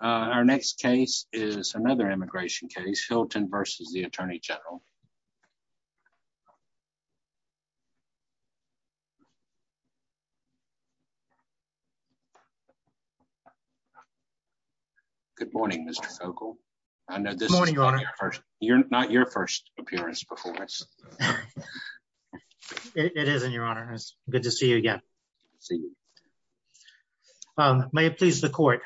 Our next case is another immigration case Hylton v. U.S. Attorney General Good morning Mr. Fogel. I know this is not your first appearance before us. It is in your honor. It's good to see you again. May it please the court.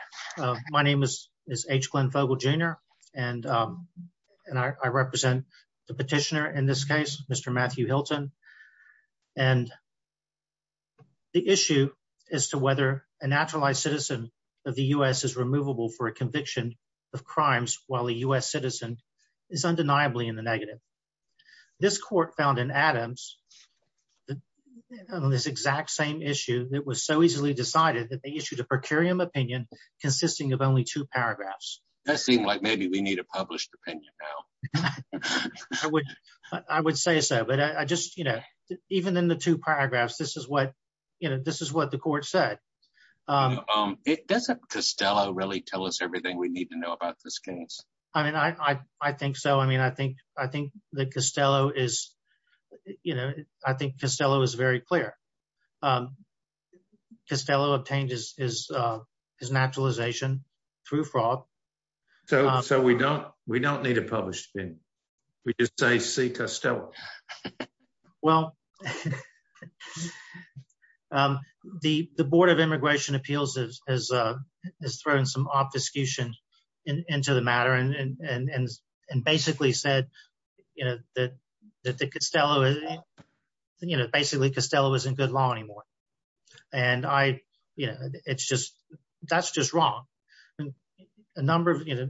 My name is H. Glenn Fogel Jr. and I represent the petitioner in this case Mr. Matthew Hylton. The issue is to whether a naturalized citizen of the U.S. is removable for a conviction of crimes while a U.S. citizen is undeniably in the negative. This court found in Adams this exact same issue that was so easily decided that they issued a per curiam opinion consisting of only two paragraphs. That seemed like maybe we need a published opinion now. I would say so but I just you know even in the two paragraphs this is what you know this is what the court said. Doesn't Costello really tell us everything we need to is you know I think Costello is very clear. Costello obtained his naturalization through fraud. So we don't we don't need a published opinion. We just say see Costello. Well the board of immigration appeals has thrown some obfuscation into the matter and basically said that the Costello is you know basically Costello isn't good law anymore. And I you know it's just that's just wrong. A number of you know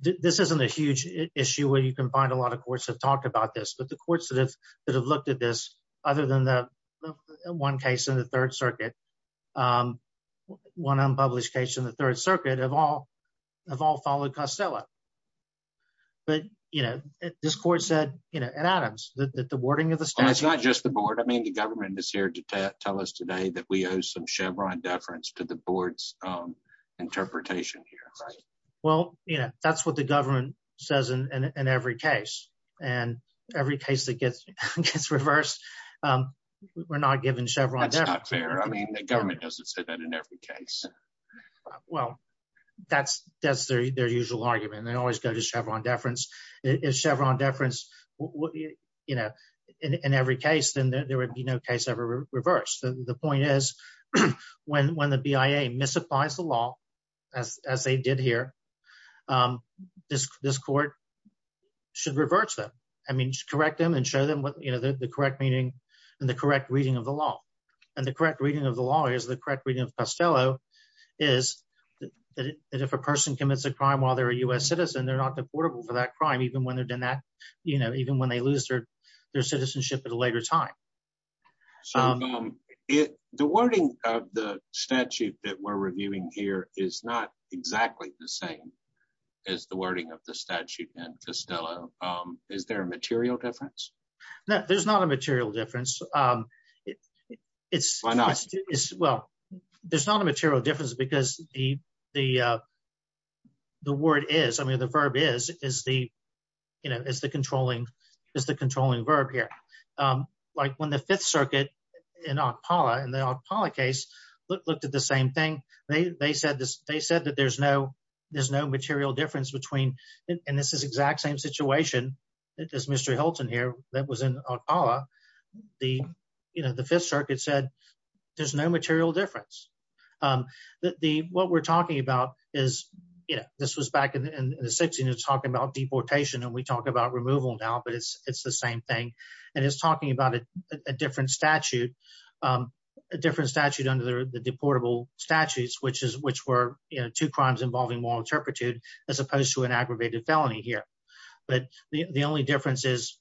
this isn't a huge issue where you can find a lot of courts have talked about this but the courts that have that have looked at this other than the one case in the third circuit one unpublished case in the third circuit have all followed Costello. But you know this court said you know and Adams that the wording of the statute. It's not just the board. I mean the government is here to tell us today that we owe some Chevron deference to the board's interpretation here. Right well you know that's what the government says in every case and every case that gets reversed we're not given Chevron. That's not fair. I mean the government doesn't say that in every case. Well that's that's their usual argument. They always go to Chevron deference. If Chevron deference you know in every case then there would be no case ever reversed. The point is when when the BIA misapplies the law as they did here this this court should reverse them. I mean just correct them and show them what you know the correct meaning and the correct reading of the law and the correct reading of the law is the correct reading of Costello is that if a person commits a crime while they're a U.S. citizen they're not deportable for that crime even when they've done that you know even when they lose their their citizenship at a later time. So the wording of the statute that we're reviewing here is not exactly the same as the wording of the statute in Costello. Is there a material difference? No there's not a material difference. Why not? Well there's not a material difference because the the word is I mean the verb is is the you know is the controlling is the controlling verb here. Like when the fifth circuit in Ocpala in the Ocpala case looked at the same thing they they said this they said that there's no there's no material difference between and this is exact same situation that this Mr. Hilton here that was in Ocpala the you know the fifth circuit said there's no material difference. The what we're talking about is you know this was back in the 60s talking about deportation and we talk about removal now but it's it's the same thing and it's talking about a different statute a different statute under the deportable statutes which is which were you know two crimes involving moral turpitude as opposed to an aggravated felony here but the the only difference is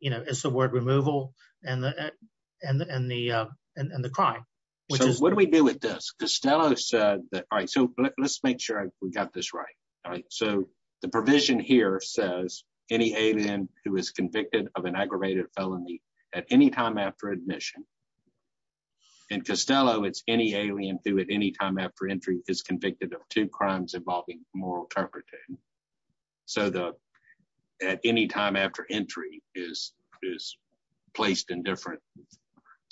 you know it's the word removal and the and the and the crime. So what do we do with this? Costello said that all right so let's make sure we got this right all right so the provision here says any alien who is convicted of an aggravated felony at any time after admission in Costello it's any alien through at any time after entry is convicted of two crimes involving moral turpitude so the at any time after entry is is placed in different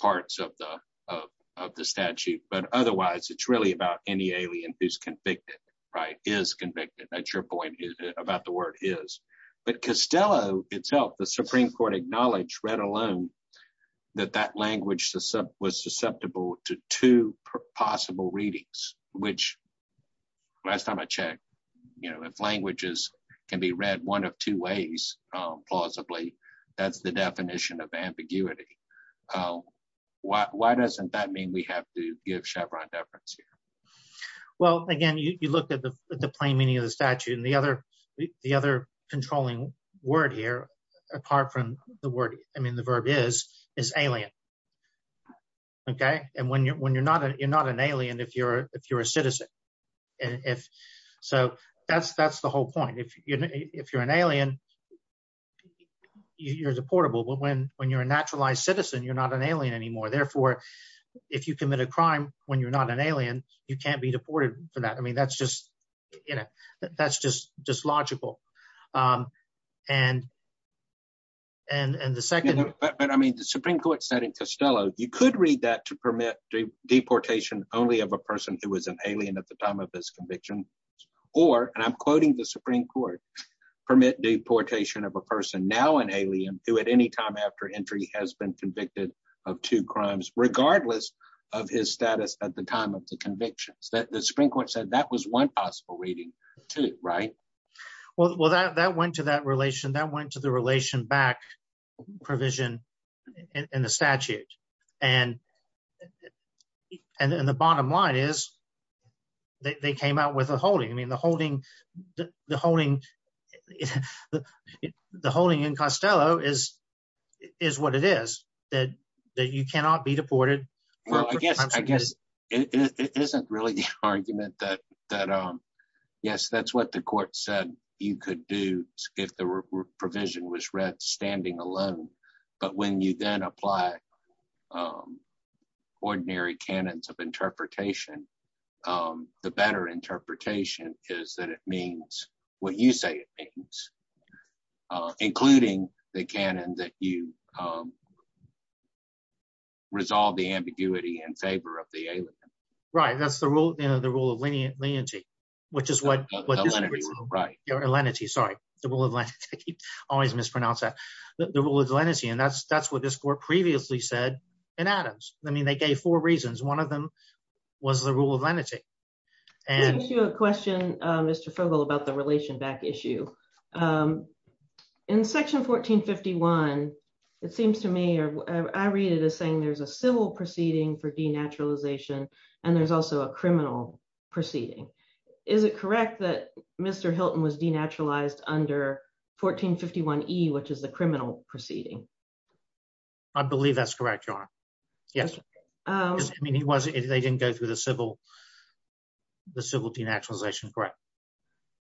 parts of the of the statute but otherwise it's really about any alien who's convicted right is convicted that's your point is about the word is but Costello itself the Supreme Court acknowledged read alone that that language was susceptible to two possible readings which last time I checked you know if languages can be read one of two ways plausibly that's the definition of ambiguity why doesn't that mean we have to give Chevron deference here? Well again you look at the plain meaning of the statute and the other the other controlling word here apart from the word I mean the verb is is alien okay and when you're when you're not you're not an alien if you're if you're a citizen and if so that's that's the whole point if you know if you're an alien you're deportable but when when you're a naturalized citizen you're not an alien anymore therefore if you commit a crime when you're not an alien you can't be deported for that I mean that's just you know that's just just logical and and and the second but I mean the Supreme Court said in Costello you could read that to permit the deportation only of a person who was an alien at the time of this conviction or and I'm quoting the Supreme Court permit deportation of a person now an alien who at any time after entry has been convicted of two crimes regardless of his status at the time of the convictions that the Supreme Court said that was one possible reading too right? Well that that went to that relation that went to the relation back provision in the statute and and and the bottom line is they came out with a holding I mean the holding the holding the holding in Costello is is what it is that that you cannot be deported. Well I guess I guess it isn't really the argument that that yes that's what the court said you could do if the provision was read standing alone but when you then apply ordinary canons of interpretation the better interpretation is that it means what you say it means including the canon that you resolve the ambiguity in favor of the alien. Right that's the rule you know the rule of leniency which is what right your lenity sorry the rule of lenity always mispronounce that the rule of lenity and that's that's what this court previously said in Adams I mean they gave four reasons one of them was the rule of lenity. I have a question Mr. Fogle about the relation back issue in section 1451 it seems to me or I read it as saying there's a civil proceeding for denaturalization and there's also a criminal proceeding is it correct that Mr. Hilton was denaturalized under 1451e which is the criminal proceeding? I believe that's correct your honor yes I mean he was if they didn't go through the civil the civil denaturalization correct.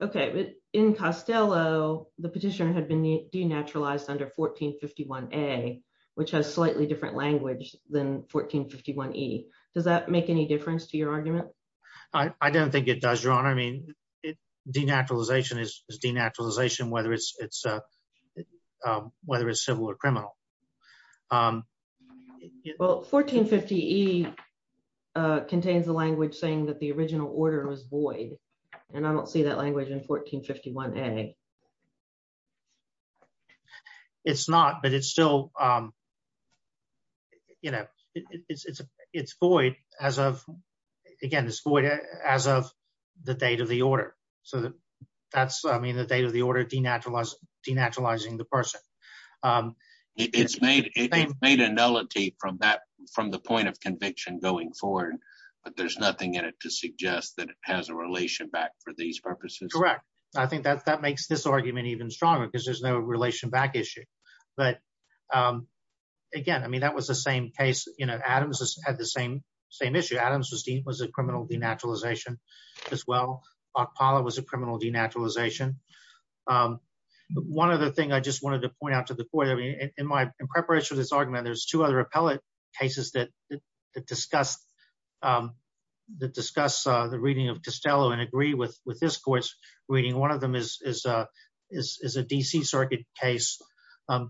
Okay but in Costello the petitioner had been denaturalized under 1451a which has slightly different language than 1451e does that make any difference to your argument? I don't think it does your honor I mean it denaturalization is denaturalization whether it's it's whether it's civil or criminal. Well 1450e contains the language saying that the it's not but it's still you know it's it's it's void as of again this void as of the date of the order so that that's I mean the date of the order denaturalized denaturalizing the person. It's made it made a nullity from that from the point of conviction going forward but there's nothing in it to suggest that it has a relation back for these purposes. Correct I think that that makes this argument even stronger because there's no relation back issue but again I mean that was the same case you know Adams had the same same issue Adams was a criminal denaturalization as well. Ocpala was a criminal denaturalization. One other thing I just wanted to point out to the court I mean in my in preparation for this argument there's two other appellate cases that that discuss that discuss the reading of Costello and agree with with this reading. One of them is a DC circuit case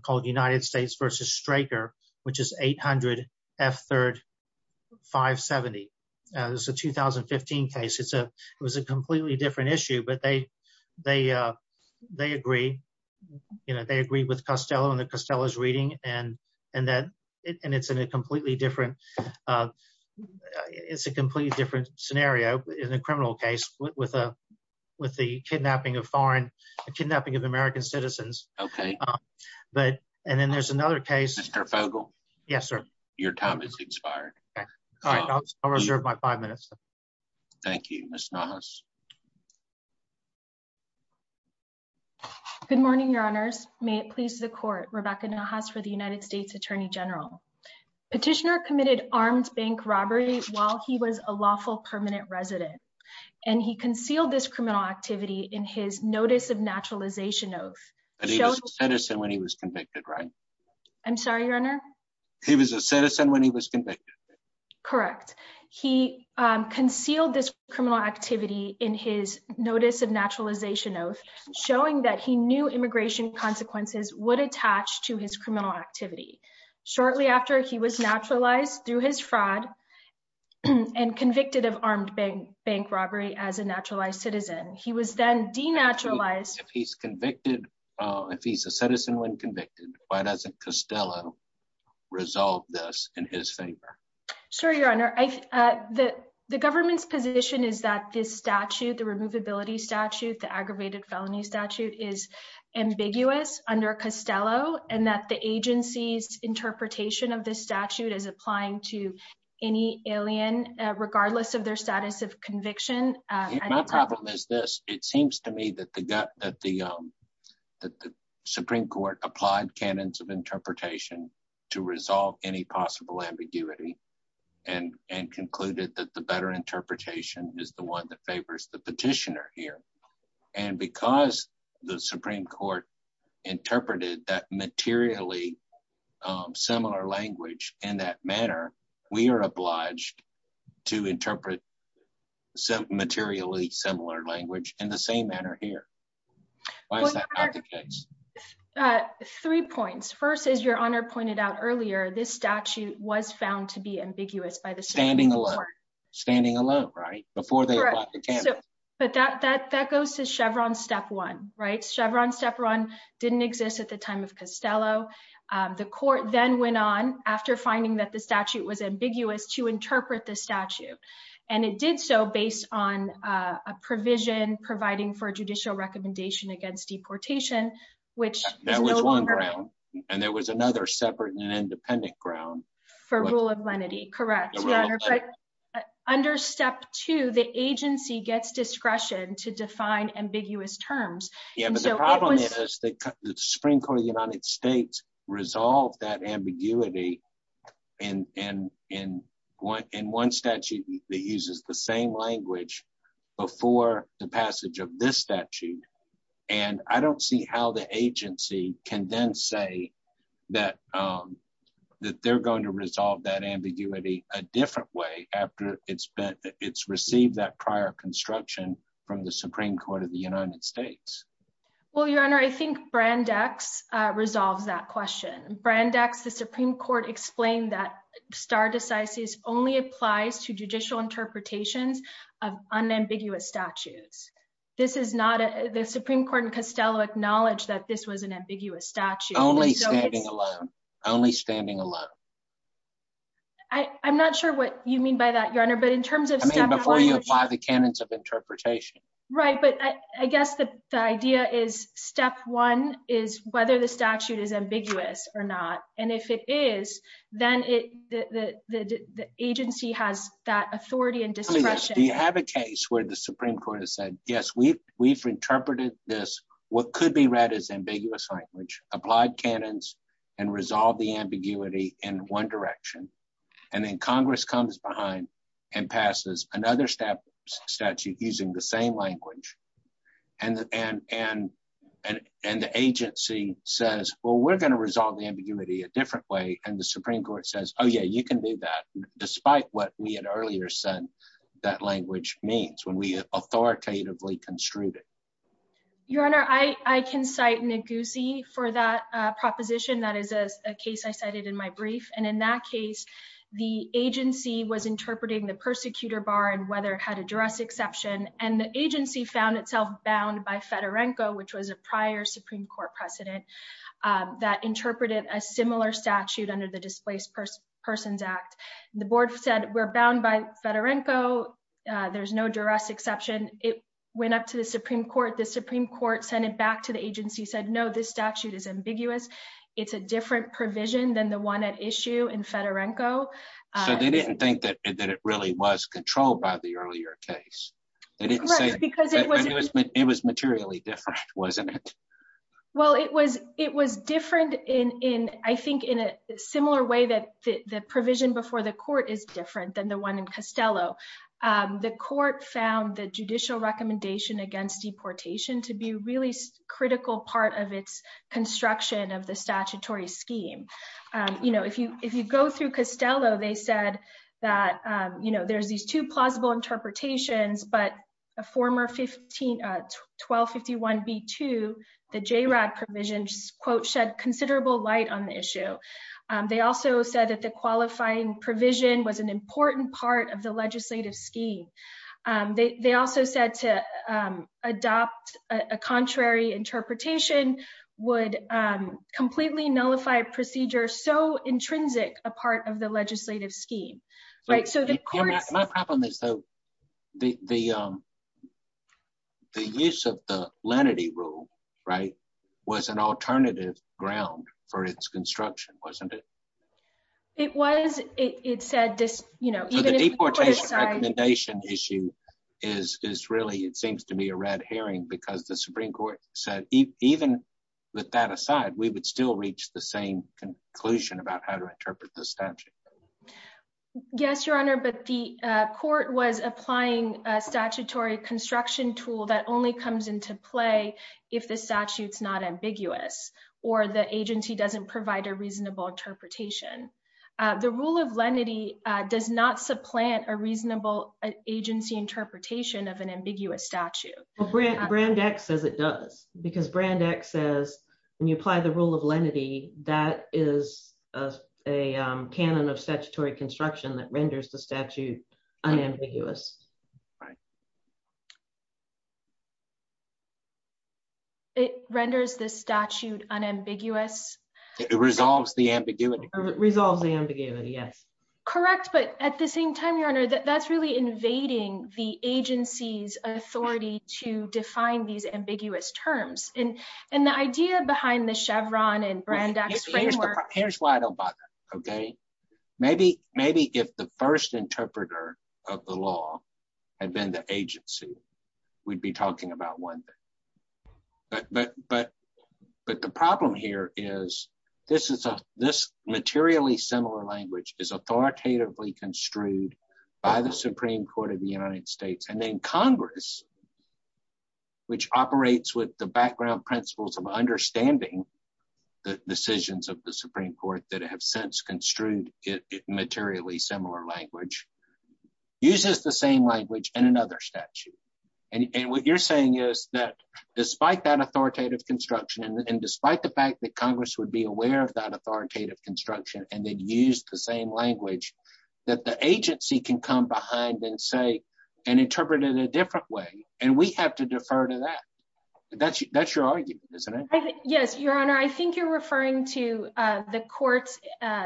called United States versus Straker which is 800 F3rd 570. It's a 2015 case it's a it was a completely different issue but they agree you know they agree with Costello and the Costello's reading and that it's in a completely different it's a completely different scenario in a criminal case with a with the kidnapping of foreign kidnapping of American citizens. Okay. But and then there's another case. Mr. Fogle. Yes sir. Your time has expired. All right I'll reserve my five minutes. Thank you Ms. Nahas. Good morning your honors may it please the court Rebecca Nahas for the United States Attorney General. Petitioner committed armed bank robbery while he was a lawful permanent resident and he concealed this criminal activity in his notice of naturalization oath. But he was a citizen when he was convicted right? I'm sorry your honor. He was a citizen when he was convicted? Correct. He concealed this criminal activity in his notice of naturalization oath showing that he knew immigration consequences would attach to his criminal activity shortly after he was naturalized through his fraud and convicted of armed bank bank robbery as a naturalized citizen. He was then denaturalized. If he's convicted if he's a citizen when convicted why doesn't Costello resolve this in his favor? Sir your honor I the the government's position is that this statute the removability statute the aggravated felony statute is ambiguous under Costello and that the agency's interpretation of this statute is applying to any alien regardless of their status of conviction. My problem is this it seems to me that the that the um that the supreme court applied canons of interpretation to resolve any possible ambiguity and and concluded that the better interpretation is the one that favors the petitioner here and because the supreme court interpreted that materially similar language in that manner we are obliged to interpret some materially similar language in the same manner here. Why is that not the case? Three points. First as your honor pointed out earlier this statute was found to be ambiguous by the standing alone standing alone right before they bought the canvas but that that that goes to Chevron step one right Chevron step one didn't exist at the time of Costello. The court then went on after finding that the statute was ambiguous to interpret the statute and it did so based on a provision providing for judicial recommendation against deportation which that was and there was another separate and independent ground for rule of lenity correct. Under step two the agency gets discretion to define ambiguous terms. Yeah but the problem is that the Supreme Court of the United States resolved that ambiguity in in in one in one statute that uses the same language before the passage of this statute and I don't see how the Supreme Court can then say that that they're going to resolve that ambiguity a different way after it's been it's received that prior construction from the Supreme Court of the United States. Well your honor I think Brandex resolves that question. Brandex the Supreme Court explained that star decisis only applies to judicial interpretations of unambiguous statutes. This is not a the Supreme Court and Costello acknowledged that this was an ambiguous statute. Only standing alone only standing alone. I I'm not sure what you mean by that your honor but in terms of before you apply the canons of interpretation. Right but I I guess the the idea is step one is whether the statute is ambiguous or not and if it is then it the the the the agency has that authority and discretion. Do you have a case where the Supreme Court has yes we've we've interpreted this what could be read as ambiguous language applied canons and resolve the ambiguity in one direction and then Congress comes behind and passes another step statute using the same language and and and and and the agency says well we're going to resolve the ambiguity a different way and the Supreme Court says oh yeah you can do that despite what we had earlier said that language means when we authoritatively construed it. Your honor I I can cite Neguse for that proposition that is a case I cited in my brief and in that case the agency was interpreting the persecutor bar and whether it had a juris exception and the agency found itself bound by Fedorenko which was a prior Supreme Court precedent that interpreted a Fedorenko there's no juris exception it went up to the Supreme Court the Supreme Court sent it back to the agency said no this statute is ambiguous it's a different provision than the one at issue in Fedorenko so they didn't think that that it really was controlled by the earlier case they didn't say because it was it was materially different wasn't it well it was it was different in in I think in a similar way that the the provision before the court is different than the one in Costello the court found the judicial recommendation against deportation to be really critical part of its construction of the statutory scheme you know if you if you go through Costello they said that you know there's these two plausible interpretations but a former 15 1251 b2 the JRAD provision quote shed considerable light on the issue they also said that the qualifying provision was an important part of the legislative scheme they also said to adopt a contrary interpretation would completely nullify a procedure so intrinsic a part of the legislative scheme right so the court my problem is though the the use of the lenity rule right was an alternative ground for its construction wasn't it it was it said this you know the deportation recommendation issue is is really it seems to be a red herring because the supreme court said even with that aside we would still reach the same conclusion about how to interpret the statute yes your honor but the uh court was applying a statutory construction tool that only comes into play if the statute's not ambiguous or the agency doesn't provide a reasonable interpretation uh the rule of lenity uh does not supplant a reasonable agency interpretation of an ambiguous statute well brand brand x says it does because brand x says when you apply the rule of lenity that is a canon of statutory construction that renders the statute unambiguous right it renders the statute unambiguous it resolves the ambiguity resolves the ambiguity yes correct but at the same time your honor that's really invading the agency's authority to define these ambiguous terms and and the idea behind the chevron and brand x framework here's why i don't bother okay maybe maybe if the first interpreter of the law had been the agency we'd be talking about one thing but but but but the problem here is this is a this materially similar language is authoritatively construed by the supreme court of the united states and then congress which operates with the background principles of understanding the decisions of the supreme court that have since construed it materially similar language uses the same language and you're saying is that despite that authoritative construction and despite the fact that congress would be aware of that authoritative construction and then use the same language that the agency can come behind and say and interpret it a different way and we have to defer to that that's that's your argument isn't it yes your honor i think you're referring to uh the court's uh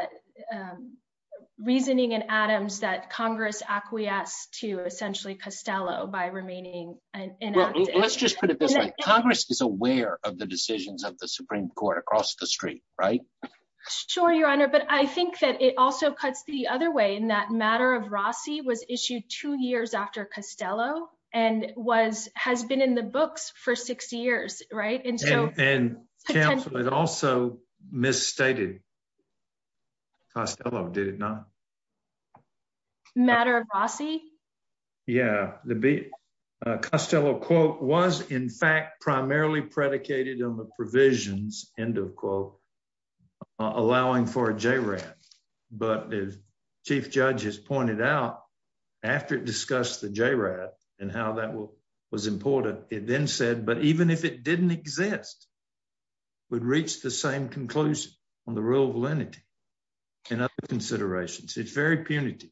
reasoning in adams that congress acquiesced to essentially costello by remaining and let's just put it this way congress is aware of the decisions of the supreme court across the street right sure your honor but i think that it also cuts the other way in that matter of rossi was issued two years after costello and was has been in the books for six years right and so and it also misstated costello did it not matter of rossi yeah the b costello quote was in fact primarily predicated on the provisions end of quote allowing for a jrat but as chief judge has pointed out after it discussed the jrat and how that will was important it then said but even if it didn't exist would reach the same conclusion on the rule of lenity and other considerations it's very punitive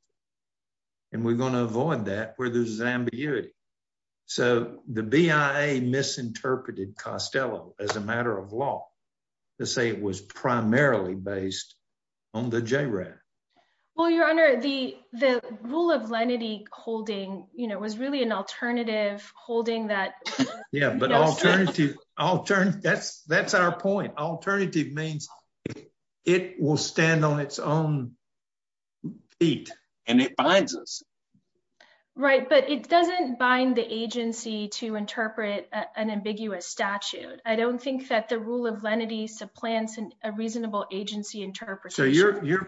and we're going to avoid that where there's an ambiguity so the bia misinterpreted costello as a matter of law to say it was primarily based on the jrat well your honor the the rule of alternative that's that's our point alternative means it will stand on its own feet and it binds us right but it doesn't bind the agency to interpret an ambiguous statute i don't think that the rule of lenity supplants a reasonable agency interpretation so your your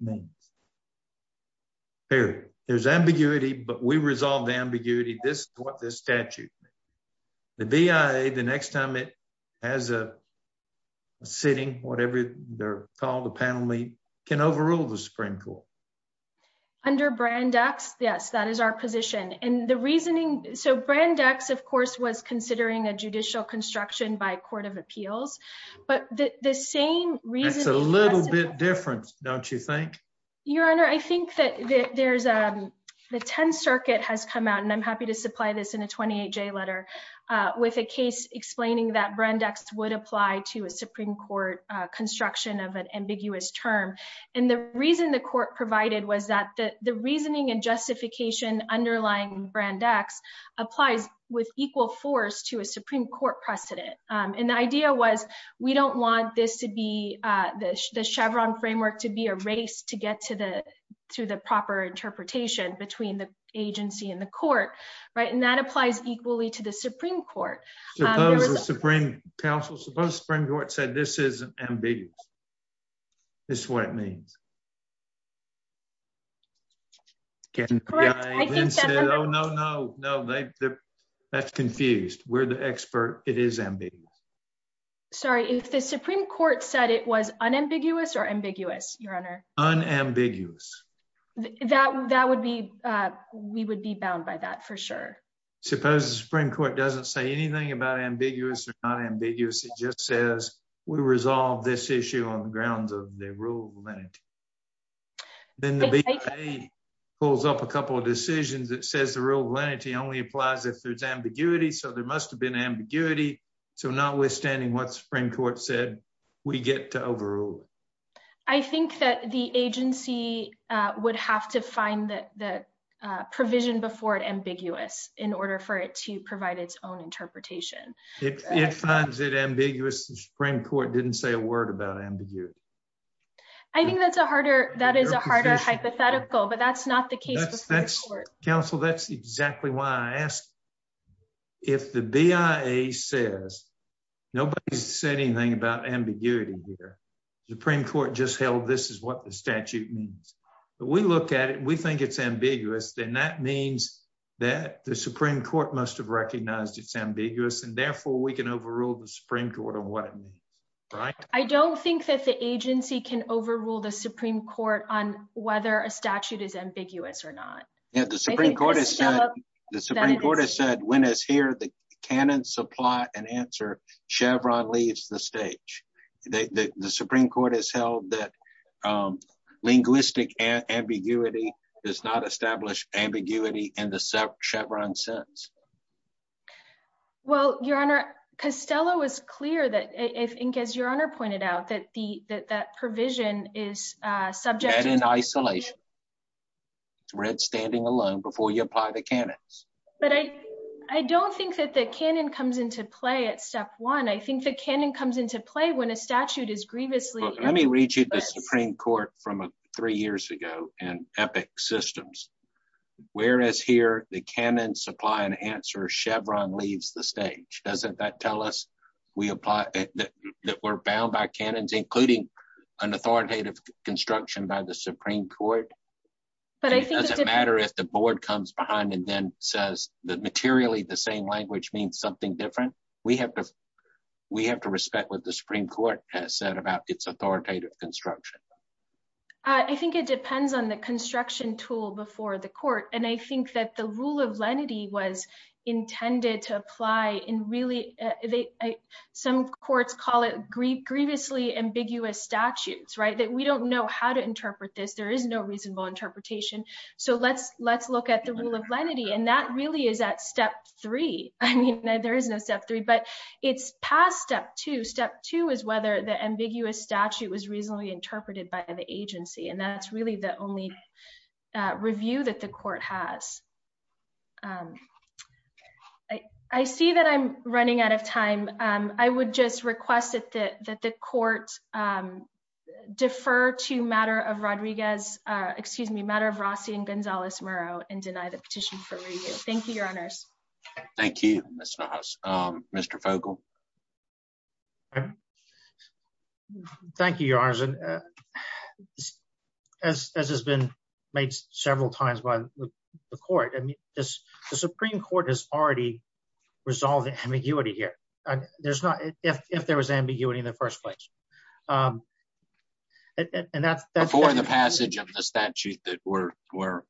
means there there's ambiguity but we resolve the ambiguity this is what this statute the bia the next time it has a sitting whatever they're called the panel meet can overrule the supreme court under brand x yes that is our position and the reasoning so brand x of course was considering a judicial construction by court of appeals but the the same reason it's a little bit different don't you think your honor i think that there's a the 10th circuit has come out and i'm happy to supply this in a 28j letter uh with a case explaining that brand x would apply to a supreme court uh construction of an ambiguous term and the reason the court provided was that the the reasoning and justification underlying brand x applies with equal force to a supreme court precedent and the idea was we don't want this to be uh the the chevron framework to be erased to get to the to the proper interpretation between the agency and the court right and that applies equally to the supreme court suppose the supreme council suppose spring court said this is ambiguous this is what it means okay no no no no that's confused we're the expert it is ambiguous sorry if the supreme court said it was unambiguous or ambiguous your honor unambiguous that that would be uh we would be bound by that for sure suppose the supreme court doesn't say anything about ambiguous or not ambiguous it just says we resolve this issue on the grounds of the rule of amenity then the bpa pulls up a couple of decisions that says the rule of amenity only applies if there's ambiguity so there must have been ambiguity so notwithstanding what supreme court said we get to overrule it i think that the agency uh would have to find the the uh provision before it ambiguous in order for it to provide its own interpretation it finds it ambiguous the supreme court didn't say a word about ambiguity i think that's a harder that is a harder hypothetical but that's not the case that's counsel that's exactly why i asked if the bia says nobody's said anything about ambiguity here supreme court just held this is what the statute means but we look at it we think it's recognized it's ambiguous and therefore we can overrule the supreme court on what it means right i don't think that the agency can overrule the supreme court on whether a statute is ambiguous or not yeah the supreme court has said the supreme court has said when is here the canon supply and answer chevron leaves the stage the the supreme court has held that um linguistic ambiguity does not establish ambiguity in the chevron sense well your honor costello was clear that if inc as your honor pointed out that the that that provision is uh subject in isolation red standing alone before you apply the canons but i i don't think that the canon comes into play at step one i think the canon comes into play when a statute is grievously let me read the supreme court from three years ago and epic systems whereas here the canon supply and answer chevron leaves the stage doesn't that tell us we apply that we're bound by canons including an authoritative construction by the supreme court but it doesn't matter if the board comes behind and then says that materially the same language means something different we have to we have to respect what the supreme court has said about its authoritative construction uh i think it depends on the construction tool before the court and i think that the rule of lenity was intended to apply in really they some courts call it greed grievously ambiguous statutes right that we don't know how to interpret this there is no reasonable interpretation so let's let's look at the rule of lenity and that really is at step three i mean there is step three but it's past step two step two is whether the ambiguous statute was reasonably interpreted by the agency and that's really the only review that the court has um i i see that i'm running out of time um i would just request that that the court um defer to matter of rodriguez uh excuse me matter of rossi and gonzalez murrow and deny the petition for review thank you your mr fogel thank you your honor as has been made several times by the court i mean this the supreme court has already resolved the ambiguity here there's not if if there was ambiguity in the first place um and that's before the passage of the statute that we're we're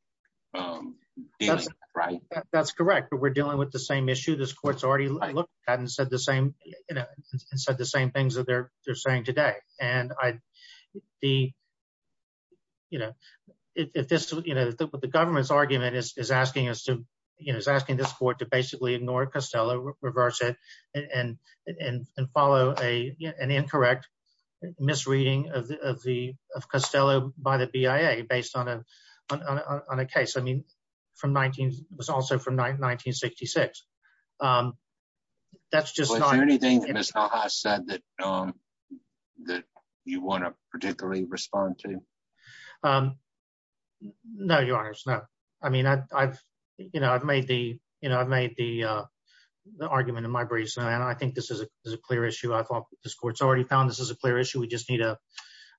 um right that's correct we're dealing with the same issue this court's already looked at and said the same you know and said the same things that they're they're saying today and i the you know if this you know the government's argument is asking us to you know is asking this court to basically ignore costello reverse it and and and follow a an incorrect misreading of the of the of costello by the bia based on a on a case i mean from 19 was also from 1966 um that's just anything that's not that you want to particularly respond to um no your honors no i mean i i've you know i've made the you know i've made the uh the argument in my briefs and i think this is a clear issue i thought this court's already found this is a clear issue we just need a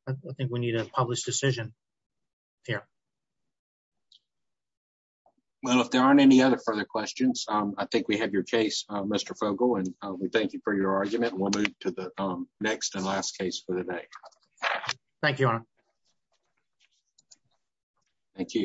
i think we need a decision here well if there aren't any other further questions um i think we have your case mr fogel and we thank you for your argument we'll move to the next and last case for the day thank you thank you